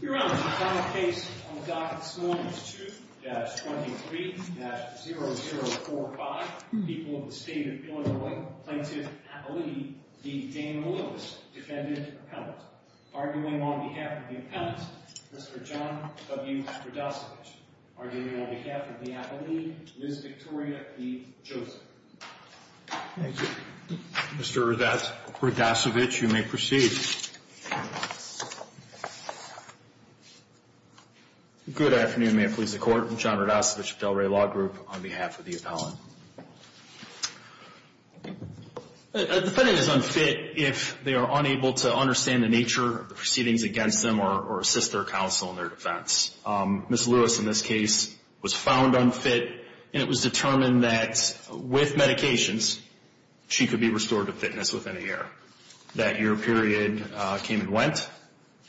Your Honor, the final case on the docket this morning is 2-23-0045. People of the State of Illinois Plaintiff Appellee v. Damon Lewis, Defendant Appellant. Arguing on behalf of the Appellant, Mr. John W. Radasevich. Arguing on behalf of the Appellee, Ms. Victoria E. Joseph. Thank you. Mr. Radasevich, you may proceed. Good afternoon. May it please the Court. I'm John Radasevich of Delray Law Group on behalf of the Appellant. A defendant is unfit if they are unable to understand the nature of the proceedings against them or assist their counsel in their defense. Ms. Lewis in this case was found unfit, and it was determined that with medications she could be restored to fitness within a year. That year period came and went,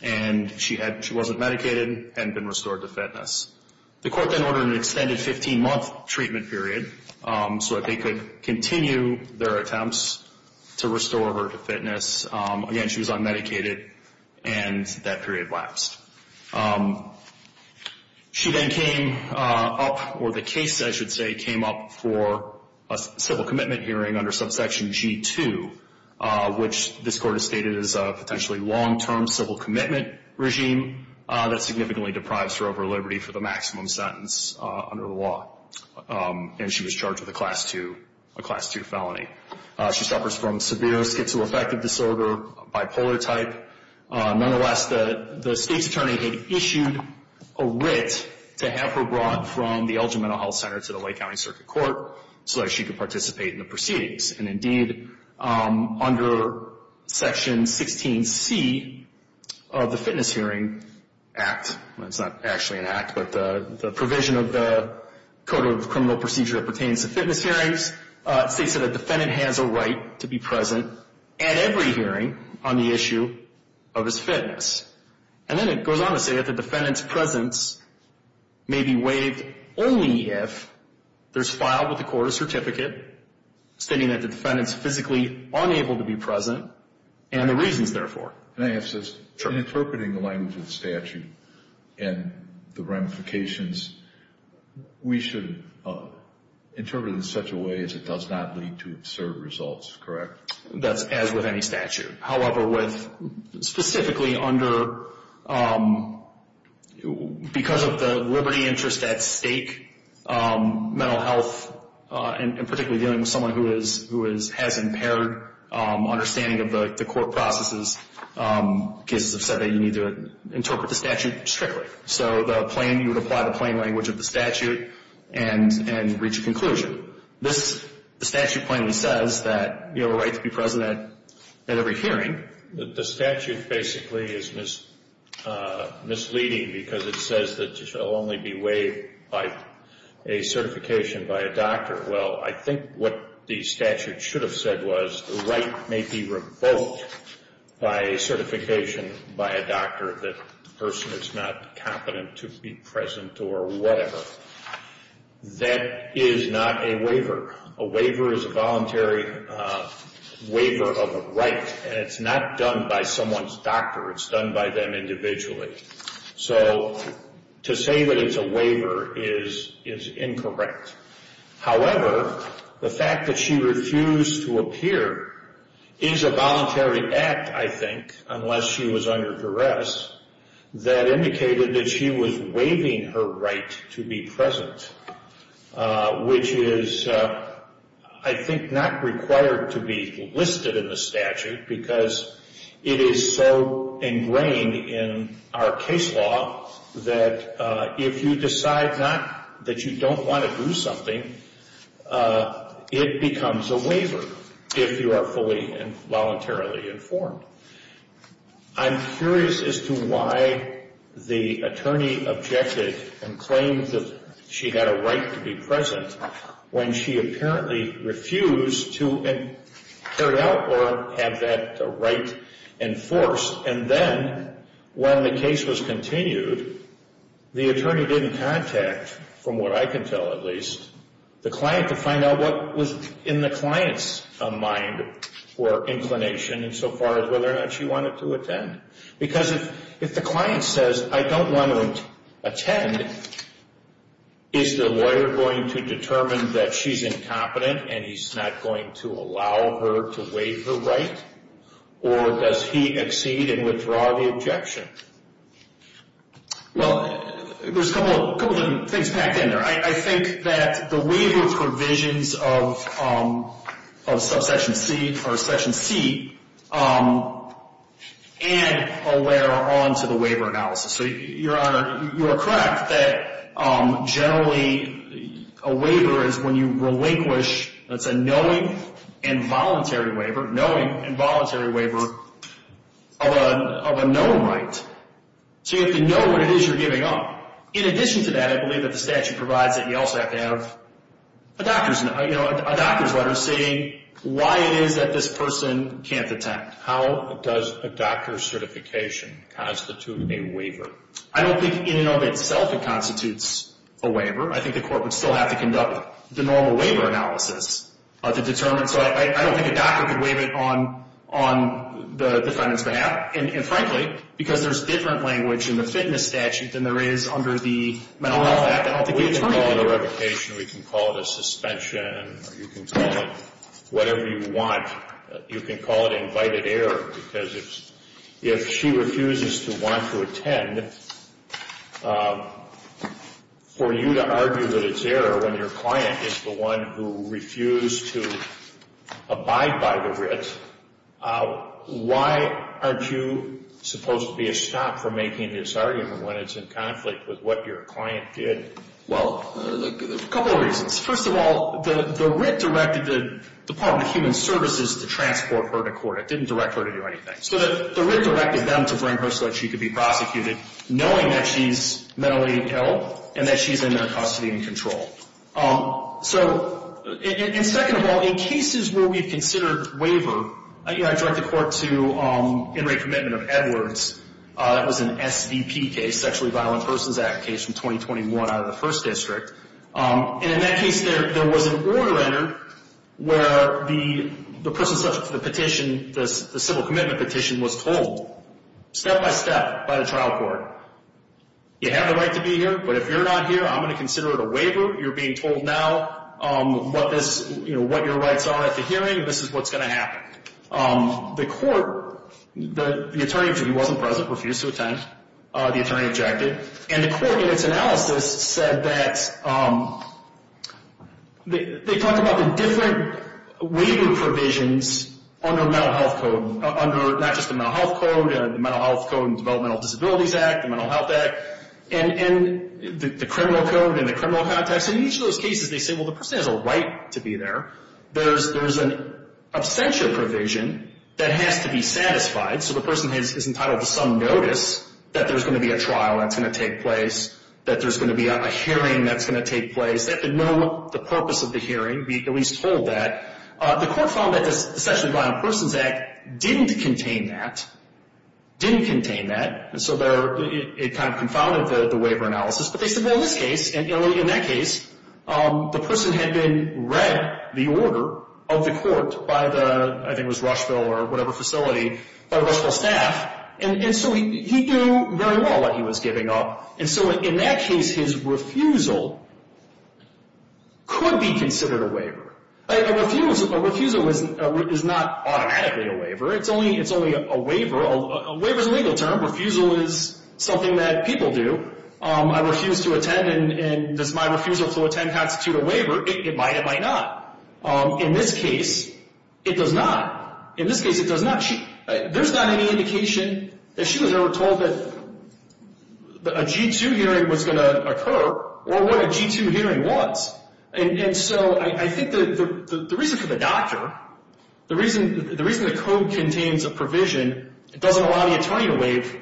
and she wasn't medicated and had been restored to fitness. The Court then ordered an extended 15-month treatment period so that they could continue their attempts to restore her to fitness. Again, she was unmedicated, and that period lapsed. She then came up, or the case I should say came up for a civil commitment hearing under subsection G-2 which this Court has stated is a potentially long-term civil commitment regime that significantly deprives her of her liberty for the maximum sentence under the law. And she was charged with a Class II felony. She suffers from severe schizoaffective disorder, bipolar type. Nonetheless, the State's Attorney had issued a writ to have her brought from the Elgin Mental Health Center to the Lake County Circuit Court so that she could participate in the proceedings. And indeed, under section 16C of the Fitness Hearing Act, well, it's not actually an act, but the provision of the Code of Criminal Procedure that pertains to fitness hearings states that a defendant has a right to be present at every hearing on the issue of his fitness. And then it goes on to say that the defendant's presence may be waived only if there's filed with the court a certificate stating that the defendant's physically unable to be present and the reasons therefore. Can I ask this? Sure. In interpreting the language of the statute and the ramifications, we should interpret it in such a way as it does not lead to absurd results, correct? That's as with any statute. However, specifically because of the liberty interest at stake, mental health, and particularly dealing with someone who has impaired understanding of the court processes, cases have said that you need to interpret the statute strictly. So you would apply the plain language of the statute and reach a conclusion. The statute plainly says that you have a right to be present at every hearing. The statute basically is misleading because it says that you shall only be waived by a certification by a doctor. Well, I think what the statute should have said was the right may be revoked by a certification by a doctor that the person is not competent to be present or whatever. That is not a waiver. A waiver is a voluntary waiver of a right, and it's not done by someone's doctor. It's done by them individually. So to say that it's a waiver is incorrect. However, the fact that she refused to appear is a voluntary act, I think, unless she was under duress, that indicated that she was waiving her right to be present, which is, I think, not required to be listed in the statute because it is so ingrained in our case law that if you decide that you don't want to do something, it becomes a waiver if you are fully and voluntarily informed. I'm curious as to why the attorney objected and claimed that she had a right to be present when she apparently refused to carry out or have that right enforced. And then when the case was continued, the attorney didn't contact, from what I can tell at least, the client to find out what was in the client's mind or inclination insofar as whether or not she wanted to attend. Because if the client says, I don't want to attend, is the lawyer going to determine that she's incompetent and he's not going to allow her to waive her right? Or does he accede and withdraw the objection? Well, there's a couple of things packed in there. I think that the waiver provisions of Subsection C or Section C add a layer onto the waiver analysis. Your Honor, you are correct that generally a waiver is when you relinquish, that's a knowing and voluntary waiver of a known right. So you have to know what it is you're giving up. In addition to that, I believe that the statute provides that you also have to have a doctor's letter saying why it is that this person can't attend. How does a doctor's certification constitute a waiver? I don't think in and of itself it constitutes a waiver. I think the court would still have to conduct the normal waiver analysis to determine. So I don't think a doctor could waive it on the defendant's behalf. And frankly, because there's different language in the fitness statute than there is under the mental health act. We can call it a revocation, we can call it a suspension, or you can call it whatever you want. You can call it invited error because if she refuses to want to attend, for you to argue that it's error when your client is the one who refused to abide by the writ, why aren't you supposed to be a stop for making this argument when it's in conflict with what your client did? Well, a couple of reasons. First of all, the writ directed the Department of Human Services to transport her to court. It didn't direct her to do anything. So the writ directed them to bring her so that she could be prosecuted, knowing that she's mentally ill and that she's in their custody and control. And second of all, in cases where we've considered waiver, I direct the court to In Re Commitment of Edwards. That was an SDP case, Sexually Violent Persons Act case from 2021 out of the first district. And in that case, there was an order entered where the person subject to the petition, the civil commitment petition, was told step-by-step by the trial court, you have the right to be here, but if you're not here, I'm going to consider it a waiver. You're being told now what your rights are at the hearing. This is what's going to happen. The court, the attorney who wasn't present refused to attend. The attorney objected. And the court in its analysis said that they talked about the different waiver provisions under mental health code, not just the mental health code, the Mental Health Code and Developmental Disabilities Act, the Mental Health Act, and the criminal code and the criminal context. In each of those cases, they say, well, the person has a right to be there. So the person is entitled to some notice that there's going to be a trial that's going to take place, that there's going to be a hearing that's going to take place, that they know the purpose of the hearing, be at least told that. The court found that the Sexually Violent Persons Act didn't contain that, didn't contain that. And so it kind of confounded the waiver analysis. But they said, well, in this case, in that case, the person had been read the order of the court by the, I think it was Rushville or whatever facility, by Rushville staff. And so he knew very well that he was giving up. And so in that case, his refusal could be considered a waiver. A refusal is not automatically a waiver. It's only a waiver. A waiver is a legal term. Refusal is something that people do. I refuse to attend, and does my refusal to attend constitute a waiver? It might. It might not. In this case, it does not. In this case, it does not. There's not any indication that she was ever told that a G-2 hearing was going to occur or what a G-2 hearing was. And so I think the reason for the doctor, the reason the code contains a provision, it doesn't allow the attorney to waive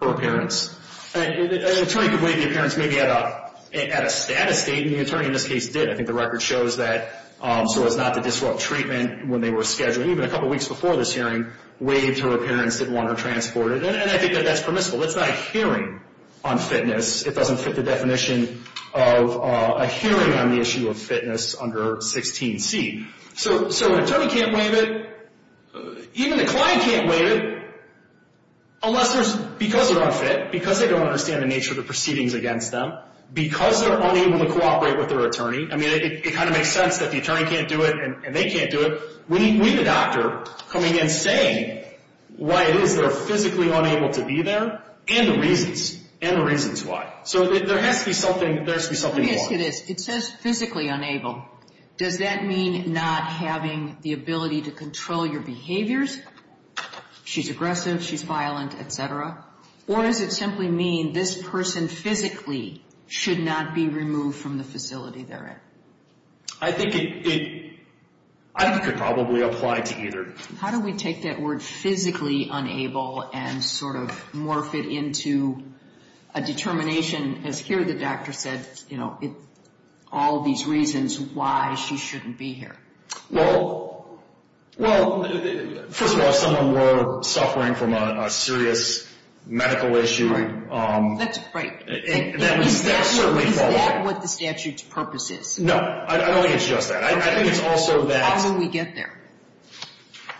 her appearance. An attorney could waive the appearance maybe at a state, and the attorney in this case did. I think the record shows that so as not to disrupt treatment when they were scheduled. Even a couple weeks before this hearing, waived her appearance, didn't want her transported. And I think that that's permissible. That's not a hearing on fitness. It doesn't fit the definition of a hearing on the issue of fitness under 16C. So an attorney can't waive it. Even the client can't waive it unless there's, because they're unfit, because they don't understand the nature of the proceedings against them, because they're unable to cooperate with their attorney. I mean, it kind of makes sense that the attorney can't do it and they can't do it. We need the doctor coming in saying why it is they're physically unable to be there and the reasons, and the reasons why. So there has to be something, there has to be something wrong. Let me ask you this. It says physically unable. Does that mean not having the ability to control your behaviors? She's aggressive, she's violent, et cetera. Or does it simply mean this person physically should not be removed from the facility they're in? I think it, I could probably apply to either. How do we take that word physically unable and sort of morph it into a determination, as here the doctor said, you know, all these reasons why she shouldn't be here? Well, first of all, if someone were suffering from a serious medical issue. Right. That's right. Is that what the statute's purpose is? No. I don't think it's just that. I think it's also that. How do we get there?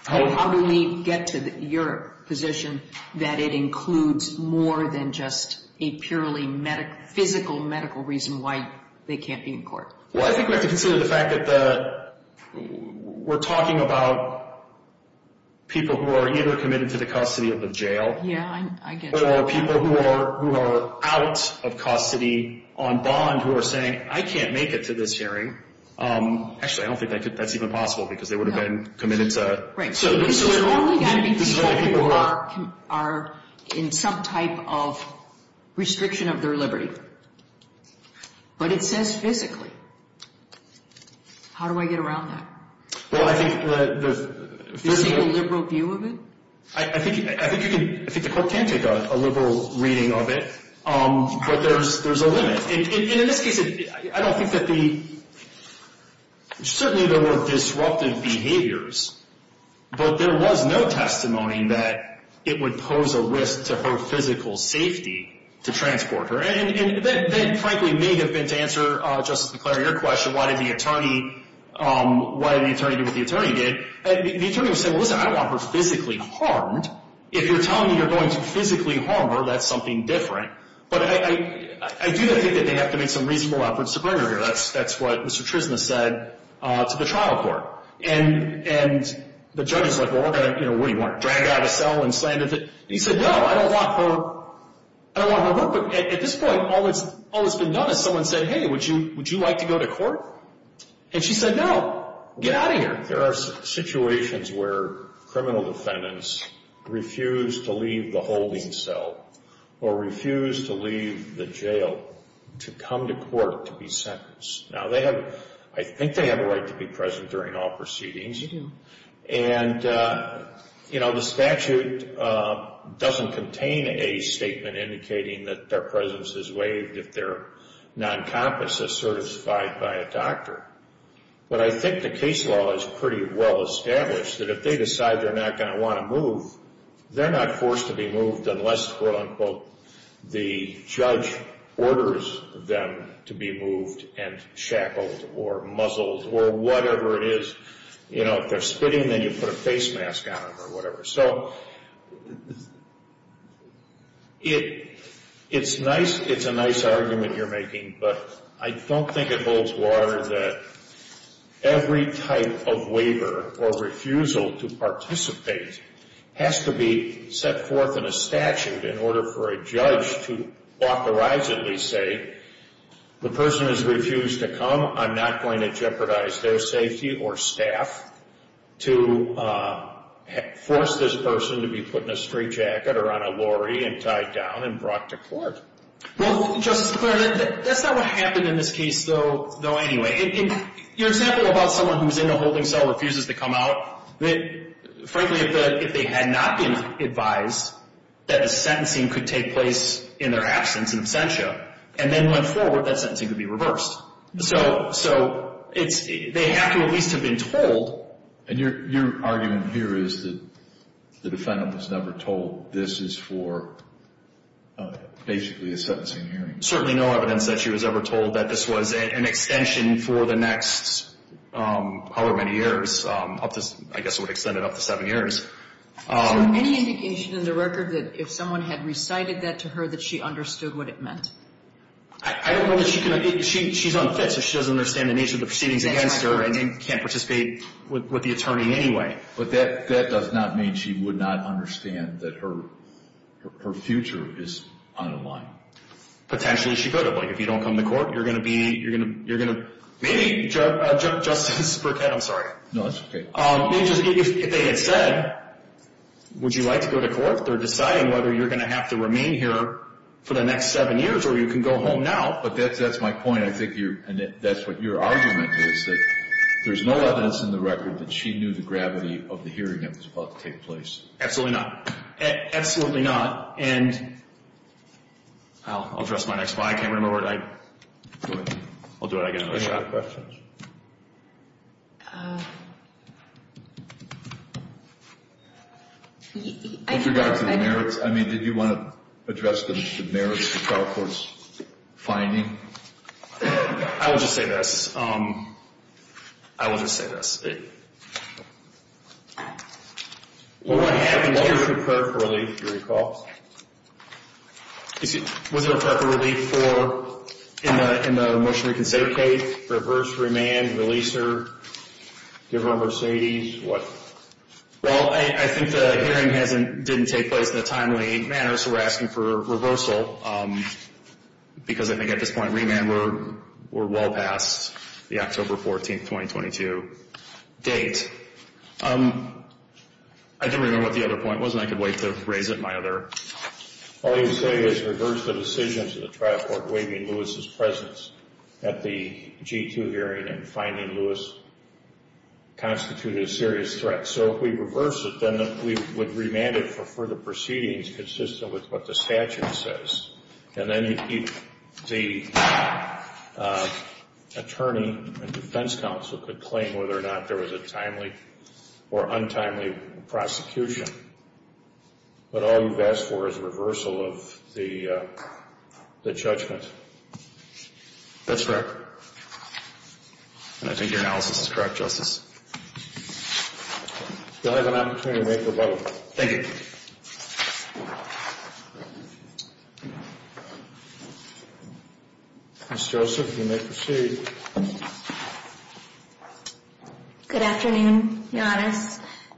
How do we get to your position that it includes more than just a purely physical medical reason why they can't be in court? Well, I think we have to consider the fact that we're talking about people who are either committed to the custody of the jail. Yeah, I get you. Or people who are out of custody on bond who are saying, I can't make it to this hearing. Actually, I don't think that's even possible because they would have been committed to. Right. So this is only going to be people who are in some type of restriction of their liberty. But it says physically. How do I get around that? Well, I think the physical. Is there a liberal view of it? I think you can. I think the court can take a liberal reading of it. But there's a limit. And in this case, I don't think that the – certainly there were disruptive behaviors. But there was no testimony that it would pose a risk to her physical safety to transport her. And that, frankly, may have been to answer, Justice McClary, your question, why did the attorney do what the attorney did. The attorney was saying, well, listen, I don't want her physically harmed. If you're telling me you're going to physically harm her, that's something different. But I do think that they have to make some reasonable efforts to bring her here. That's what Mr. Trisna said to the trial court. And the judge was like, well, what do you want, drag her out of the cell and slam into – and he said, no, I don't want her hurt. But at this point, all that's been done is someone said, hey, would you like to go to court? And she said, no, get out of here. There are situations where criminal defendants refuse to leave the holding cell or refuse to leave the jail to come to court to be sentenced. Now, they have – I think they have a right to be present during all proceedings. And, you know, the statute doesn't contain a statement indicating that their presence is waived if their non-compass is certified by a doctor. But I think the case law is pretty well established that if they decide they're not going to want to move, they're not forced to be moved unless, quote-unquote, the judge orders them to be moved and shackled or muzzled or whatever it is. You know, if they're spitting, then you put a face mask on them or whatever. So it's nice – it's a nice argument you're making, but I don't think it holds water that every type of waiver or refusal to participate has to be set forth in a statute in order for a judge to authorizedly say, the person has refused to come, I'm not going to jeopardize their safety or staff to force this person to be put in a straitjacket or on a lorry and tied down and brought to court. Well, Justice McClaren, that's not what happened in this case, though, anyway. In your example about someone who's in the holding cell, refuses to come out, frankly, if they had not been advised that a sentencing could take place in their absence and absentia and then went forward, that sentencing could be reversed. So they have to at least have been told. And your argument here is that the defendant was never told this is for basically a sentencing hearing. Certainly no evidence that she was ever told that this was an extension for the next however many years, I guess it would extend it up to seven years. Is there any indication in the record that if someone had recited that to her that she understood what it meant? I don't know that she can. She's unfit, so she doesn't understand the nature of the proceedings against her and can't participate with the attorney anyway. But that does not mean she would not understand that her future is unaligned. Potentially she could have. Like, if you don't come to court, you're going to be, you're going to, maybe, Justice Burkett, I'm sorry. No, that's okay. If they had said, would you like to go to court, they're deciding whether you're going to have to remain here for the next seven years or you can go home now. But that's my point. I think you're, and that's what your argument is, that there's no evidence in the record that she knew the gravity of the hearing that was about to take place. Absolutely not. Absolutely not. And I'll address my next slide. I can't remember where I, I'll do it again. Any other questions? With regard to the merits, I mean, did you want to address the merits of the trial court's finding? I will just say this. I will just say this. What happened, was there a prep relief, if you recall? Was there a prep relief for, in the motion to reconsider case, reverse remand, releaser, give her a Mercedes, what? Well, I think the hearing didn't take place in a timely manner, so we're asking for reversal because I think at this point remand were well past the October 14th, 2022 date. I didn't remember what the other point was, and I can wait to raise it in my other. All you say is reverse the decision to the trial court waiving Lewis's presence at the G2 hearing and finding Lewis constituted a serious threat. So if we reverse it, then we would remand it for further proceedings consistent with what the statute says. And then the attorney and defense counsel could claim whether or not there was a timely or untimely prosecution. But all you've asked for is reversal of the judgment. That's correct. And I think your analysis is correct, Justice. You'll have an opportunity to make your vote. Thank you. Ms. Joseph, you may proceed. Good afternoon, Your Honor.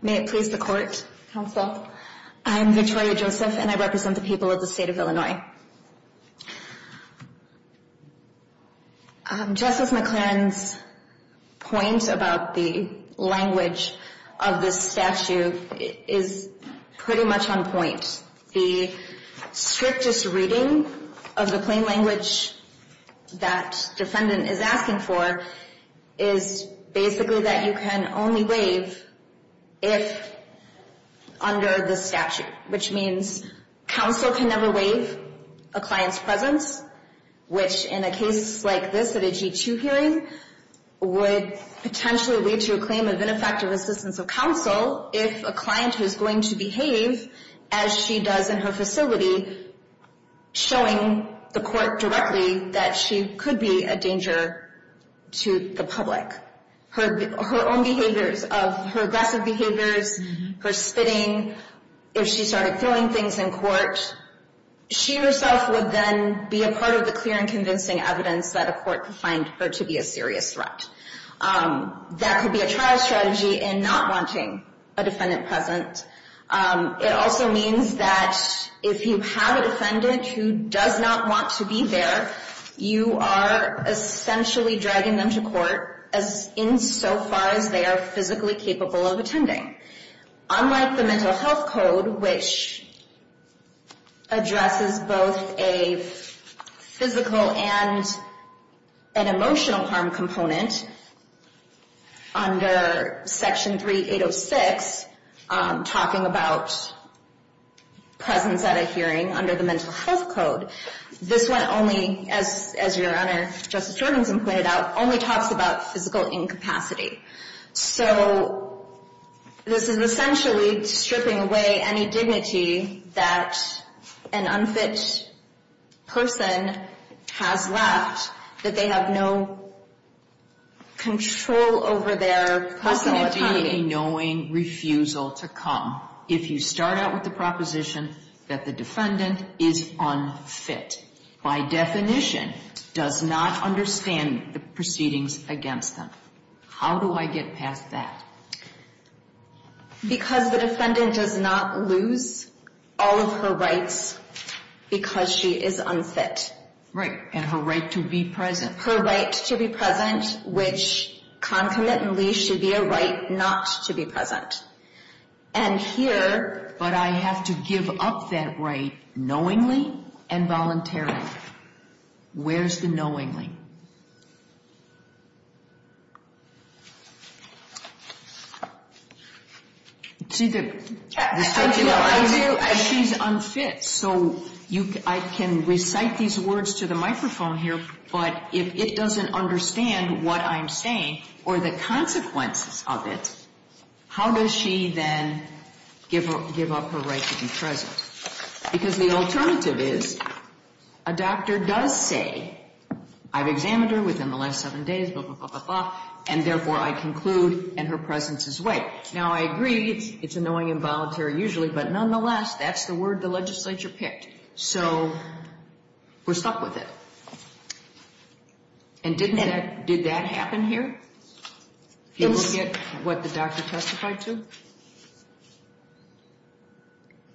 May it please the court, counsel. I'm Victoria Joseph, and I represent the people of the state of Illinois. Justice McClaren's point about the language of this statute is pretty much on point. The strictest reading of the plain language that defendant is asking for is basically that you can only waive if under the statute, which means counsel can never waive a client's presence, which in a case like this at a G2 hearing would potentially lead to a claim of ineffective assistance of counsel if a client is going to behave as she does in her facility, showing the court directly that she could be a danger to the public. Her own behaviors, her aggressive behaviors, her spitting, if she started throwing things in court, she herself would then be a part of the clear and convincing evidence that a court could find her to be a serious threat. That could be a trial strategy in not wanting a defendant present. It also means that if you have a defendant who does not want to be there, you are essentially dragging them to court insofar as they are physically capable of attending. Unlike the Mental Health Code, which addresses both a physical and an emotional harm component, under Section 3806, talking about presence at a hearing under the Mental Health Code, this one only, as Your Honor, Justice Jorgenson pointed out, only talks about physical incapacity. So this is essentially stripping away any dignity that an unfit person has left, that they have no control over their personal autonomy. How can it be a knowing refusal to come if you start out with the proposition that the defendant is unfit, by definition, does not understand the proceedings against them? How do I get past that? Because the defendant does not lose all of her rights because she is unfit. Right, and her right to be present. Her right to be present, which concomitantly should be a right not to be present. And here... But I have to give up that right knowingly and voluntarily. Where's the knowingly? See, the... I do, I do. She's unfit, so I can recite these words to the microphone here, but if it doesn't understand what I'm saying or the consequences of it, how does she then give up her right to be present? Because the alternative is a doctor does say, I've examined her within the last seven days, blah, blah, blah, blah, blah, and therefore I conclude and her presence is way. Now, I agree it's annoying and voluntary usually, but nonetheless, that's the word the legislature picked. So we're stuck with it. And didn't that, did that happen here? Did we get what the doctor testified to?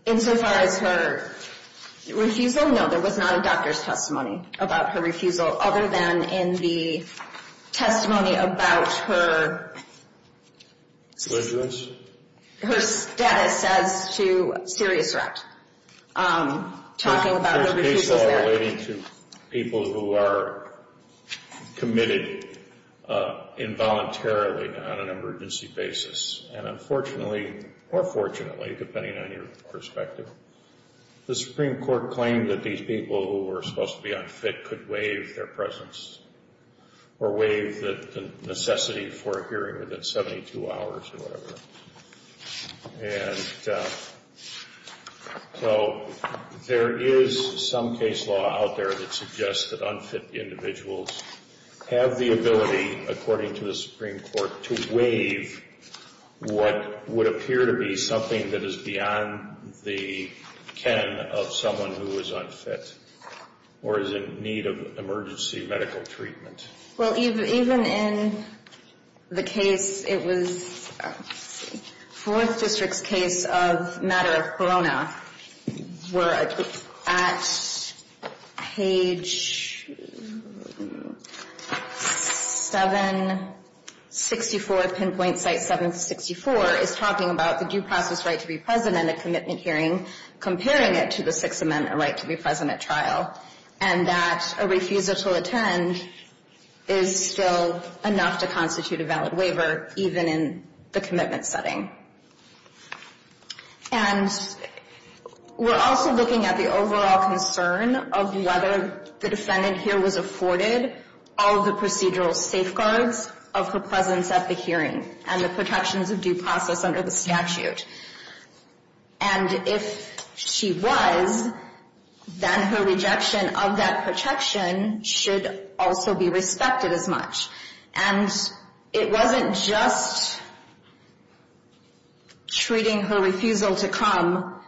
Insofar as her refusal? No, there was not a doctor's testimony about her refusal, other than in the testimony about her status as to serious wreck, talking about the refusal there. There's a case law relating to people who are committed involuntarily on an emergency basis, and unfortunately or fortunately, depending on your perspective, the Supreme Court claimed that these people who were supposed to be unfit could waive their presence or waive the necessity for a hearing within 72 hours or whatever. And so there is some case law out there that suggests that unfit individuals have the ability, according to the Supreme Court, to waive what would appear to be something that is beyond the ken of someone who is unfit or is in need of emergency medical treatment. Well, even in the case, it was Fourth District's case of matter of corona, where at page 764, pinpoint site 764, is talking about the due process right to be present at a commitment hearing, comparing it to the Sixth Amendment right to be present at trial, and that a refusal to attend is still enough to constitute a valid waiver, even in the commitment setting. And we're also looking at the overall concern of whether the defendant here was afforded all of the procedural safeguards of her presence at the hearing and the protections of due process under the statute. And if she was, then her rejection of that protection should also be respected as much. And it wasn't just treating her refusal to come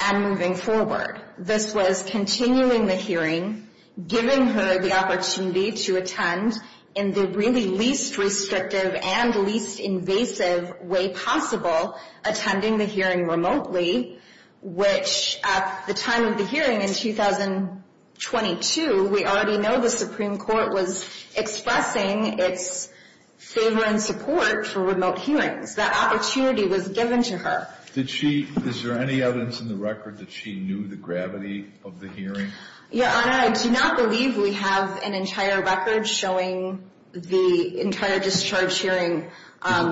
and moving forward. This was continuing the hearing, giving her the opportunity to attend in the really least restrictive and least invasive way possible, attending the hearing remotely, which at the time of the hearing in 2022, we already know the Supreme Court was expressing its favor and support for remote hearings. That opportunity was given to her. Is there any evidence in the record that she knew the gravity of the hearing? Your Honor, I do not believe we have an entire record showing the entire discharge hearing.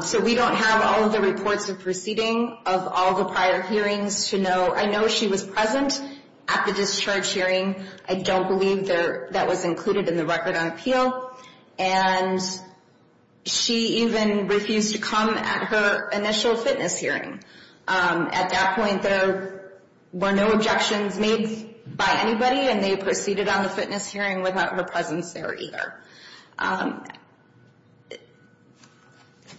So we don't have all of the reports of proceeding of all the prior hearings to know. I know she was present at the discharge hearing. I don't believe that was included in the record on appeal. And she even refused to come at her initial fitness hearing. At that point, there were no objections made by anybody, and they proceeded on the fitness hearing without her presence there either.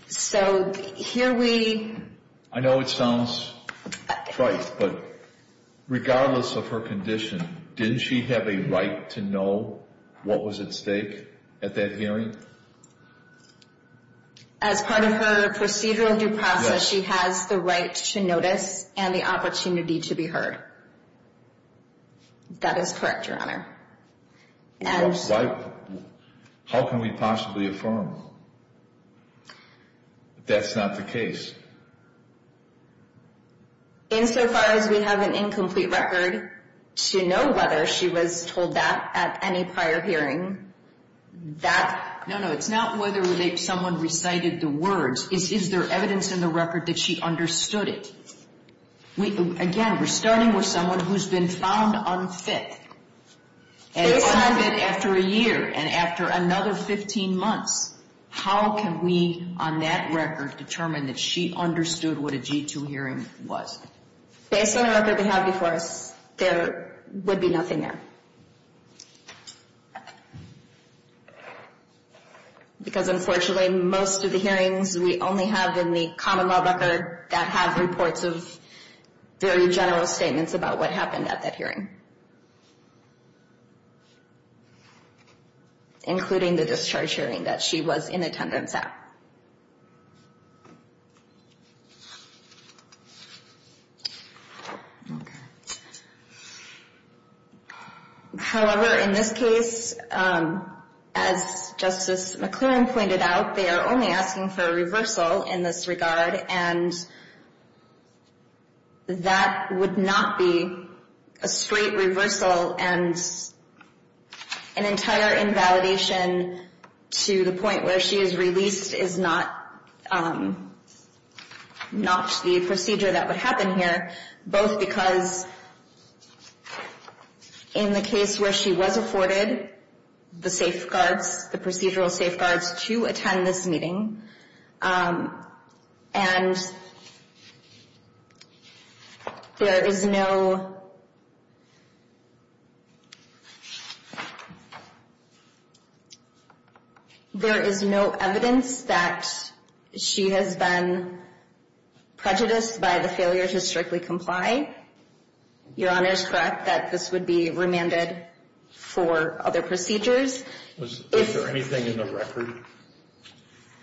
So here we— I know it sounds trite, but regardless of her condition, didn't she have a right to know what was at stake at that hearing? As part of her procedural due process, she has the right to notice and the opportunity to be heard. That is correct, Your Honor. How can we possibly affirm that that's not the case? Insofar as we have an incomplete record to know whether she was told that at any prior hearing, that— No, no, it's not whether someone recited the words. Is there evidence in the record that she understood it? Again, we're starting with someone who's been found unfit. And after a year and after another 15 months, how can we, on that record, determine that she understood what a G-2 hearing was? Based on the record they have before us, there would be nothing there. Because unfortunately, most of the hearings we only have in the common law record that have reports of very general statements about what happened at that hearing, including the discharge hearing that she was in attendance at. However, in this case, as Justice McClurin pointed out, they are only asking for a reversal in this regard, and that would not be a straight reversal and an entire invalidation to the point where she is released is not the procedure that would happen here, both because in the case where she was afforded the safeguards, the procedural safeguards to attend this meeting, and there is no evidence that she has been prejudiced by the failure to strictly comply. Your Honor is correct that this would be remanded for other procedures. Was there anything in the record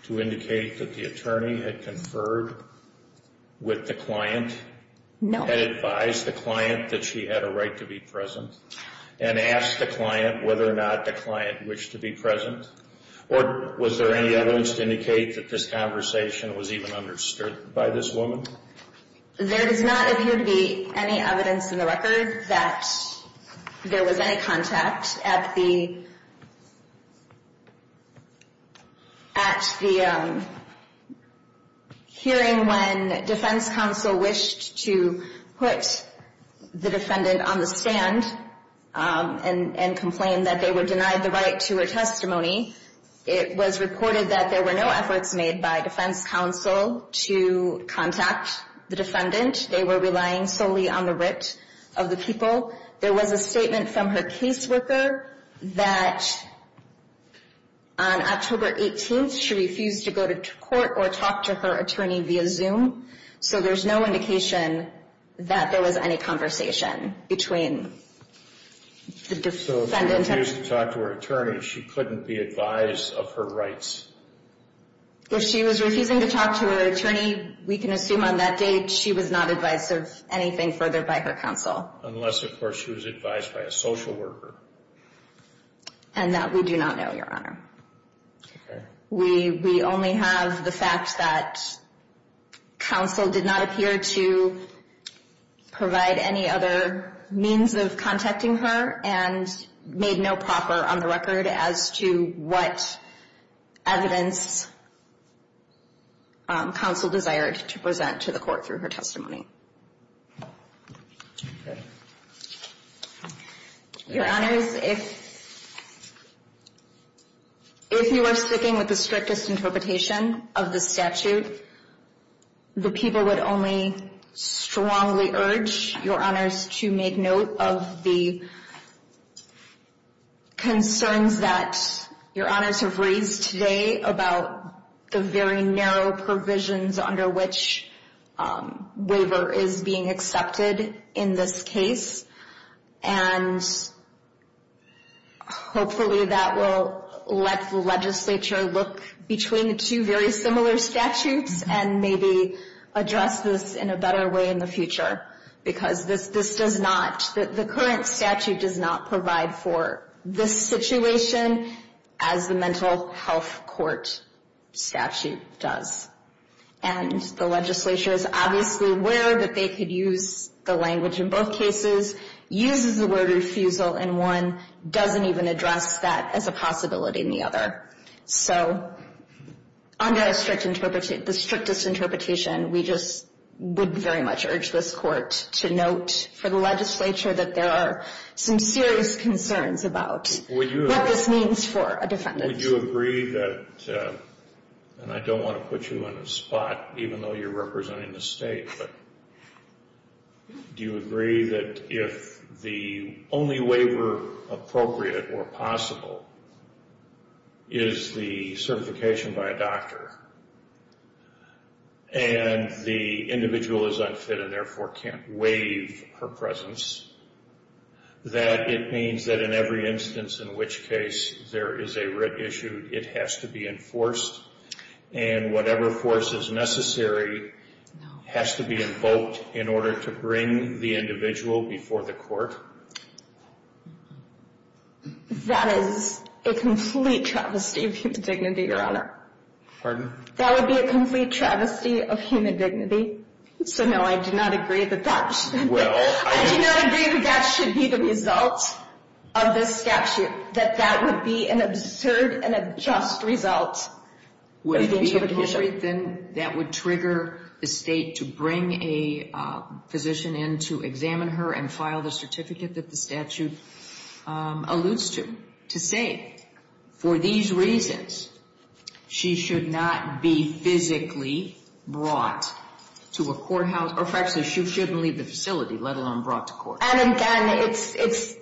to indicate that the attorney had conferred with the client? No. And advised the client that she had a right to be present? And asked the client whether or not the client wished to be present? Or was there any evidence to indicate that this conversation was even understood by this woman? There does not appear to be any evidence in the record that there was any contact at the hearing when defense counsel wished to put the defendant on the stand and complained that they were denied the right to her testimony. It was reported that there were no efforts made by defense counsel to contact the defendant. They were relying solely on the writ of the people. There was a statement from her caseworker that on October 18th she refused to go to court or talk to her attorney via Zoom, so there's no indication that there was any conversation between the defendant If she refused to talk to her attorney, she couldn't be advised of her rights? If she was refusing to talk to her attorney, we can assume on that date she was not advised of anything further by her counsel. Unless of course she was advised by a social worker. And that we do not know, Your Honor. Okay. We only have the fact that counsel did not appear to provide any other means of contacting her and made no proper on the record as to what evidence counsel desired to present to the court through her testimony. Your Honors, if you are sticking with the strictest interpretation of the statute, the people would only strongly urge Your Honors to make note of the concerns that Your Honors have raised today about the very narrow provisions under which waiver is being accepted in this case. And hopefully that will let the legislature look between the two very similar statutes and maybe address this in a better way in the future. Because the current statute does not provide for this situation as the mental health court statute does. And the legislature is obviously aware that they could use the language in both cases, uses the word refusal in one, doesn't even address that as a possibility in the other. So under the strictest interpretation, we just would very much urge this court to note for the legislature that there are some serious concerns about what this means for a defendant. Would you agree that, and I don't want to put you on the spot even though you're representing the state, but do you agree that if the only waiver appropriate or possible is the certification by a doctor and the individual is unfit and therefore can't waive her presence, that it means that in every instance in which case there is a writ issued, it has to be enforced and whatever force is necessary has to be invoked in order to bring the individual before the court? That is a complete travesty of human dignity, Your Honor. Pardon? That would be a complete travesty of human dignity. So no, I do not agree with that. I do not agree that that should be the result of this statute, that that would be an absurd and unjust result. Would it be appropriate, then, that would trigger the state to bring a physician in to examine her and file the certificate that the statute alludes to, to say, for these reasons, she should not be physically brought to a courthouse, or, in fact, she shouldn't leave the facility, let alone brought to court? And, again, it's,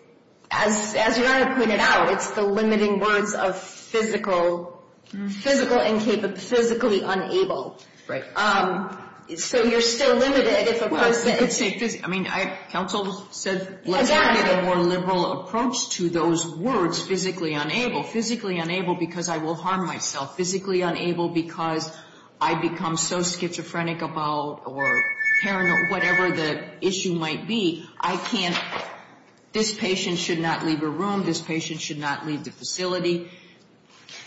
as Your Honor pointed out, it's the limiting words of physical and physically unable. Right. So you're still limited if a person... I mean, counsel said let's get a more liberal approach to those words, physically unable. Physically unable because I will harm myself. Physically unable because I become so schizophrenic about or paranoid, whatever the issue might be, I can't, this patient should not leave a room, this patient should not leave the facility.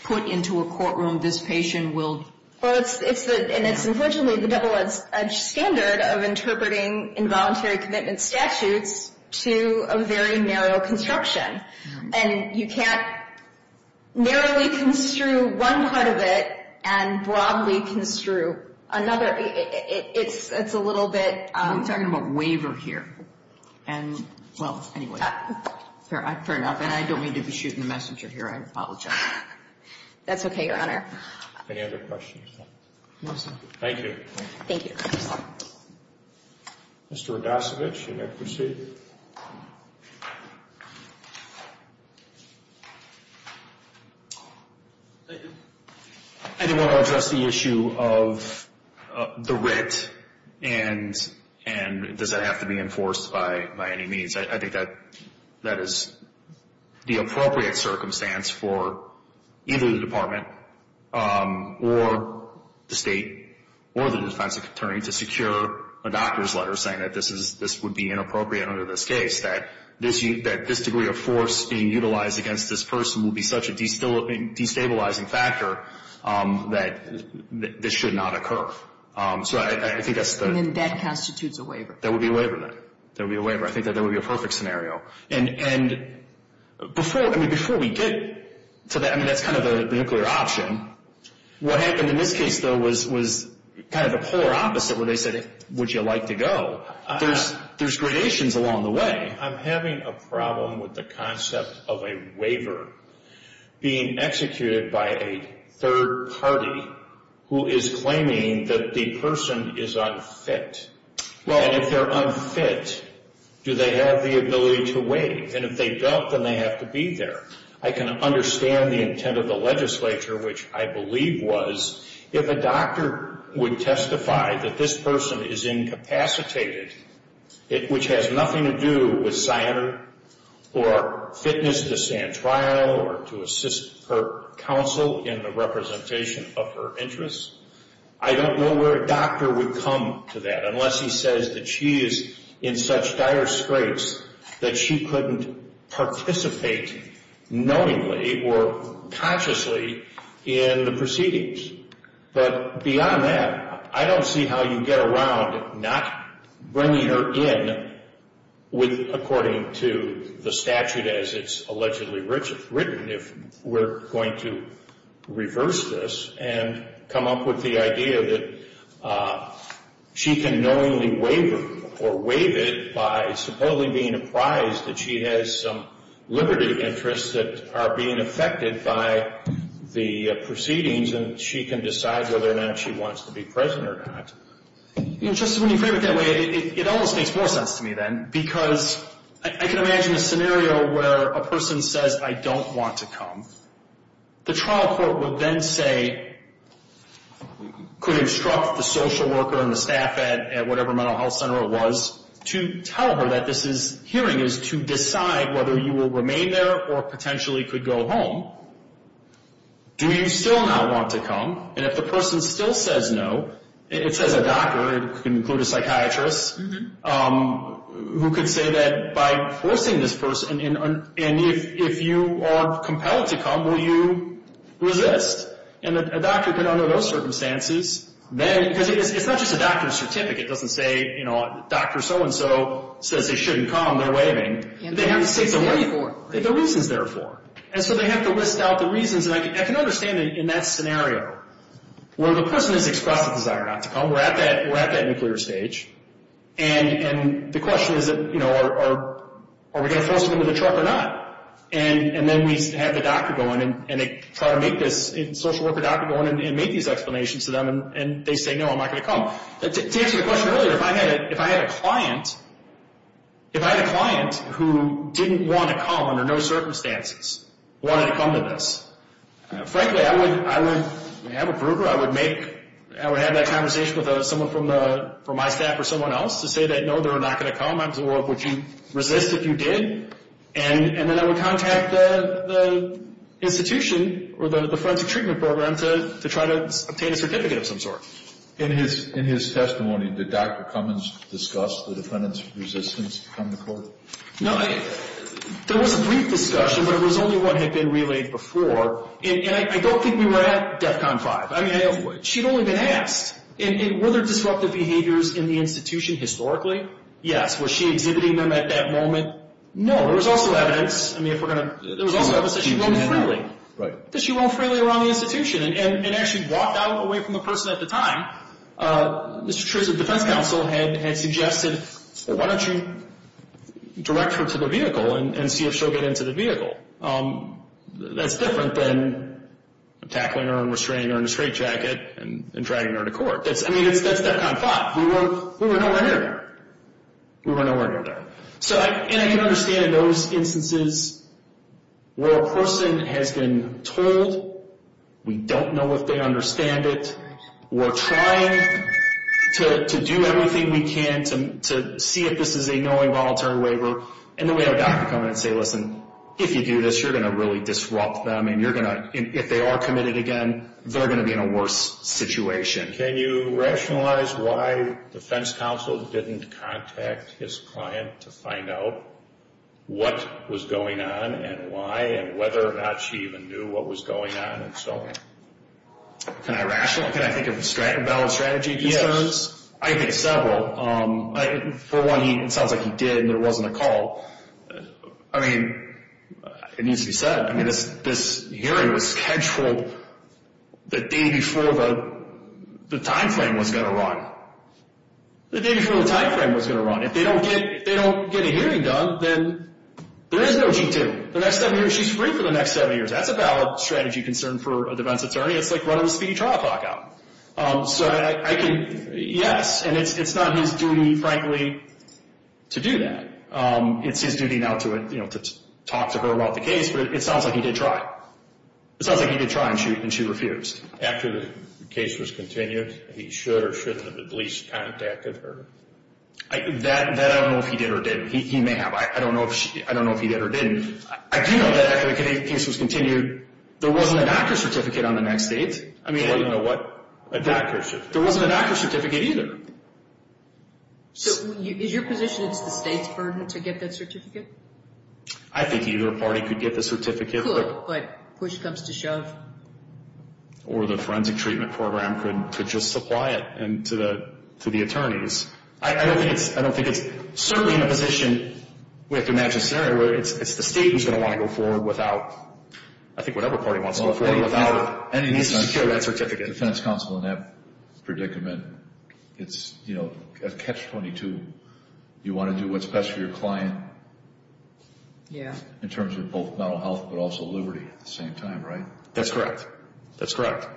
Put into a courtroom, this patient will... Well, it's the, and it's unfortunately the double-edged standard of interpreting involuntary commitment statutes to a very narrow construction. And you can't narrowly construe one part of it and broadly construe another. It's a little bit... I'm talking about waiver here. And, well, anyway, fair enough. And I don't mean to be shooting the messenger here. I apologize. That's okay, Your Honor. Any other questions? No, sir. Thank you. Thank you. Mr. Rogasevich, you may proceed. Thank you. I didn't want to address the issue of the writ and does that have to be enforced by any means. I think that is the appropriate circumstance for either the department or the state or the defense attorney to secure a doctor's letter saying that this would be inappropriate under this case, that this degree of force being utilized against this person would be such a destabilizing factor that this should not occur. So I think that's the... And then that constitutes a waiver. That would be a waiver then. That would be a waiver. I think that would be a perfect scenario. And before we get to that, I mean, that's kind of a nuclear option. What happened in this case, though, was kind of the polar opposite where they said, would you like to go? There's gradations along the way. I'm having a problem with the concept of a waiver being executed by a third party who is claiming that the person is unfit. And if they're unfit, do they have the ability to waive? And if they don't, then they have to be there. I can understand the intent of the legislature, which I believe was, if a doctor would testify that this person is incapacitated, which has nothing to do with SINR or fitness to stand trial or to assist her counsel in the representation of her interests, I don't know where a doctor would come to that unless he says that she is in such dire straits that she couldn't participate knowingly or consciously in the proceedings. But beyond that, I don't see how you get around not bringing her in with, according to the statute as it's allegedly written, if we're going to reverse this and come up with the idea that she can knowingly waive her or waive it by supposedly being apprised that she has some liberty interests that are being affected by the proceedings and she can decide whether or not she wants to be present or not. You know, Justice, when you frame it that way, it almost makes more sense to me then because I can imagine a scenario where a person says, I don't want to come. The trial court would then say, could instruct the social worker and the staff at whatever mental health center it was to tell her that this hearing is to decide whether you will remain there or potentially could go home. Do you still not want to come? And if the person still says no, it says a doctor, it can include a psychiatrist, who could say that by forcing this person, and if you are compelled to come, will you resist? And a doctor can, under those circumstances, then, because it's not just a doctor's certificate doesn't say, you know, doctor so-and-so says they shouldn't come, they're waiving. They have to state the reasons they're for. And so they have to list out the reasons. And I can understand in that scenario where the person has expressed a desire not to come. We're at that nuclear stage. And the question is, you know, are we going to force them into the truck or not? And then we have the doctor go in, and they try to make this social worker doctor go in and make these explanations to them, and they say, no, I'm not going to come. To answer your question earlier, if I had a client who didn't want to come under no circumstances, wanted to come to this, frankly, I would have a broker. I would have that conversation with someone from my staff or someone else to say that, no, they're not going to come, or would you resist if you did? And then I would contact the institution or the forensic treatment program to try to obtain a certificate of some sort. In his testimony, did Dr. Cummins discuss the defendant's resistance to come to court? No. There was a brief discussion, but it was only what had been relayed before. And I don't think we were at DEFCON 5. I mean, she'd only been asked. And were there disruptive behaviors in the institution historically? Yes. Was she exhibiting them at that moment? No. There was also evidence. I mean, if we're going to – there was also evidence that she roamed freely. That she roamed freely around the institution and actually walked out away from the person at the time. Now, Mr. Chris, the defense counsel had suggested, well, why don't you direct her to the vehicle and see if she'll get into the vehicle? That's different than tackling her and restraining her in a straitjacket and dragging her to court. I mean, that's DEFCON 5. We were nowhere near there. We were nowhere near there. And I can understand in those instances where a person has been told, we don't know if they understand it. We're trying to do everything we can to see if this is a knowing voluntary waiver. And then we have a doctor come in and say, listen, if you do this, you're going to really disrupt them. And if they are committed again, they're going to be in a worse situation. Can you rationalize why the defense counsel didn't contact his client to find out what was going on and why and whether or not she even knew what was going on? Can I rationalize? Can I think of a valid strategy? Yes. I think several. For one, it sounds like he did and there wasn't a call. I mean, it needs to be said. I mean, this hearing was scheduled the day before the time frame was going to run. The day before the time frame was going to run. If they don't get a hearing done, then there is no G-2. The next seven years, she's free for the next seven years. That's a valid strategy concern for a defense attorney. It's like running a speedy trial clock out. So, yes, and it's not his duty, frankly, to do that. It's his duty now to talk to her about the case, but it sounds like he did try. It sounds like he did try and she refused. After the case was continued, he should or shouldn't have at least contacted her? That I don't know if he did or didn't. He may have. I don't know if he did or didn't. I do know that after the case was continued, there wasn't a doctor's certificate on the next date. I mean, I don't know what. A doctor's certificate. There wasn't a doctor's certificate either. So is your position it's the state's burden to get that certificate? I think either party could get the certificate. Good, but push comes to shove. Or the forensic treatment program could just supply it to the attorneys. I don't think it's certainly in a position, we have to imagine a scenario, where it's the state who's going to want to go forward without, I think whatever party wants to go forward, without a need to secure that certificate. The defense counsel in that predicament, it's, you know, catch 22. You want to do what's best for your client in terms of both mental health but also liberty at the same time, right? That's correct. That's correct.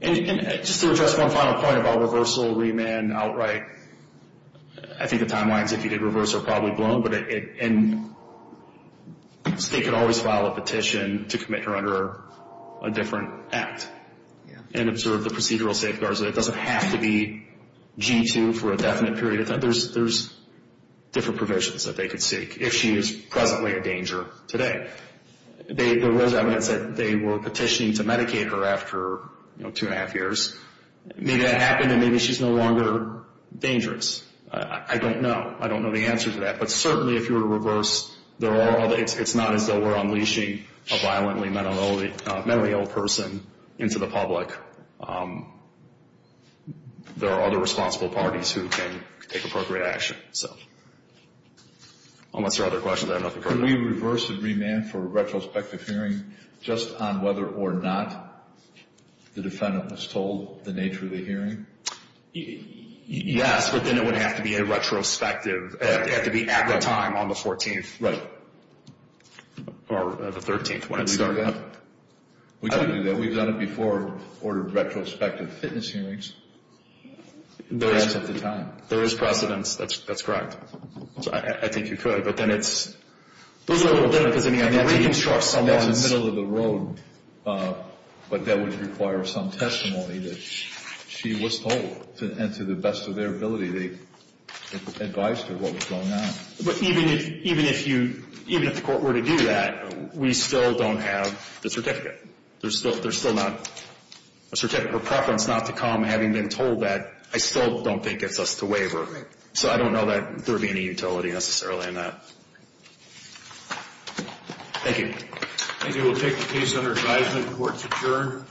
And just to address one final point about reversal, remand, outright, I think the timelines if you did reverse are probably blown, but the state could always file a petition to commit her under a different act and observe the procedural safeguards. It doesn't have to be G-2 for a definite period. There's different provisions that they could seek if she is presently a danger today. There was evidence that they were petitioning to medicate her after, you know, two and a half years. Maybe that happened and maybe she's no longer dangerous. I don't know. I don't know the answer to that. But certainly if you were to reverse, it's not as though we're unleashing a violently mentally ill person into the public. There are other responsible parties who can take appropriate action. Unless there are other questions, I have nothing further. Could we reverse a remand for a retrospective hearing just on whether or not the defendant was told the nature of the hearing? Yes, but then it would have to be a retrospective. It would have to be at the time on the 14th. Right. Or the 13th when we do that. We've done it before for retrospective fitness hearings. There is precedence. That's correct. I think you could. But then it's, those are all done because they have to reconstruct someone's. That's the middle of the road. But that would require some testimony that she was told. And to the best of their ability, they advised her what was going on. But even if you, even if the court were to do that, we still don't have the certificate. There's still not a certificate of preference not to come, having been told that. I still don't think it's us to waiver. Right. So I don't know that there would be any utility necessarily in that. Thank you. Thank you. We'll take the case under advisement. Court's adjourned.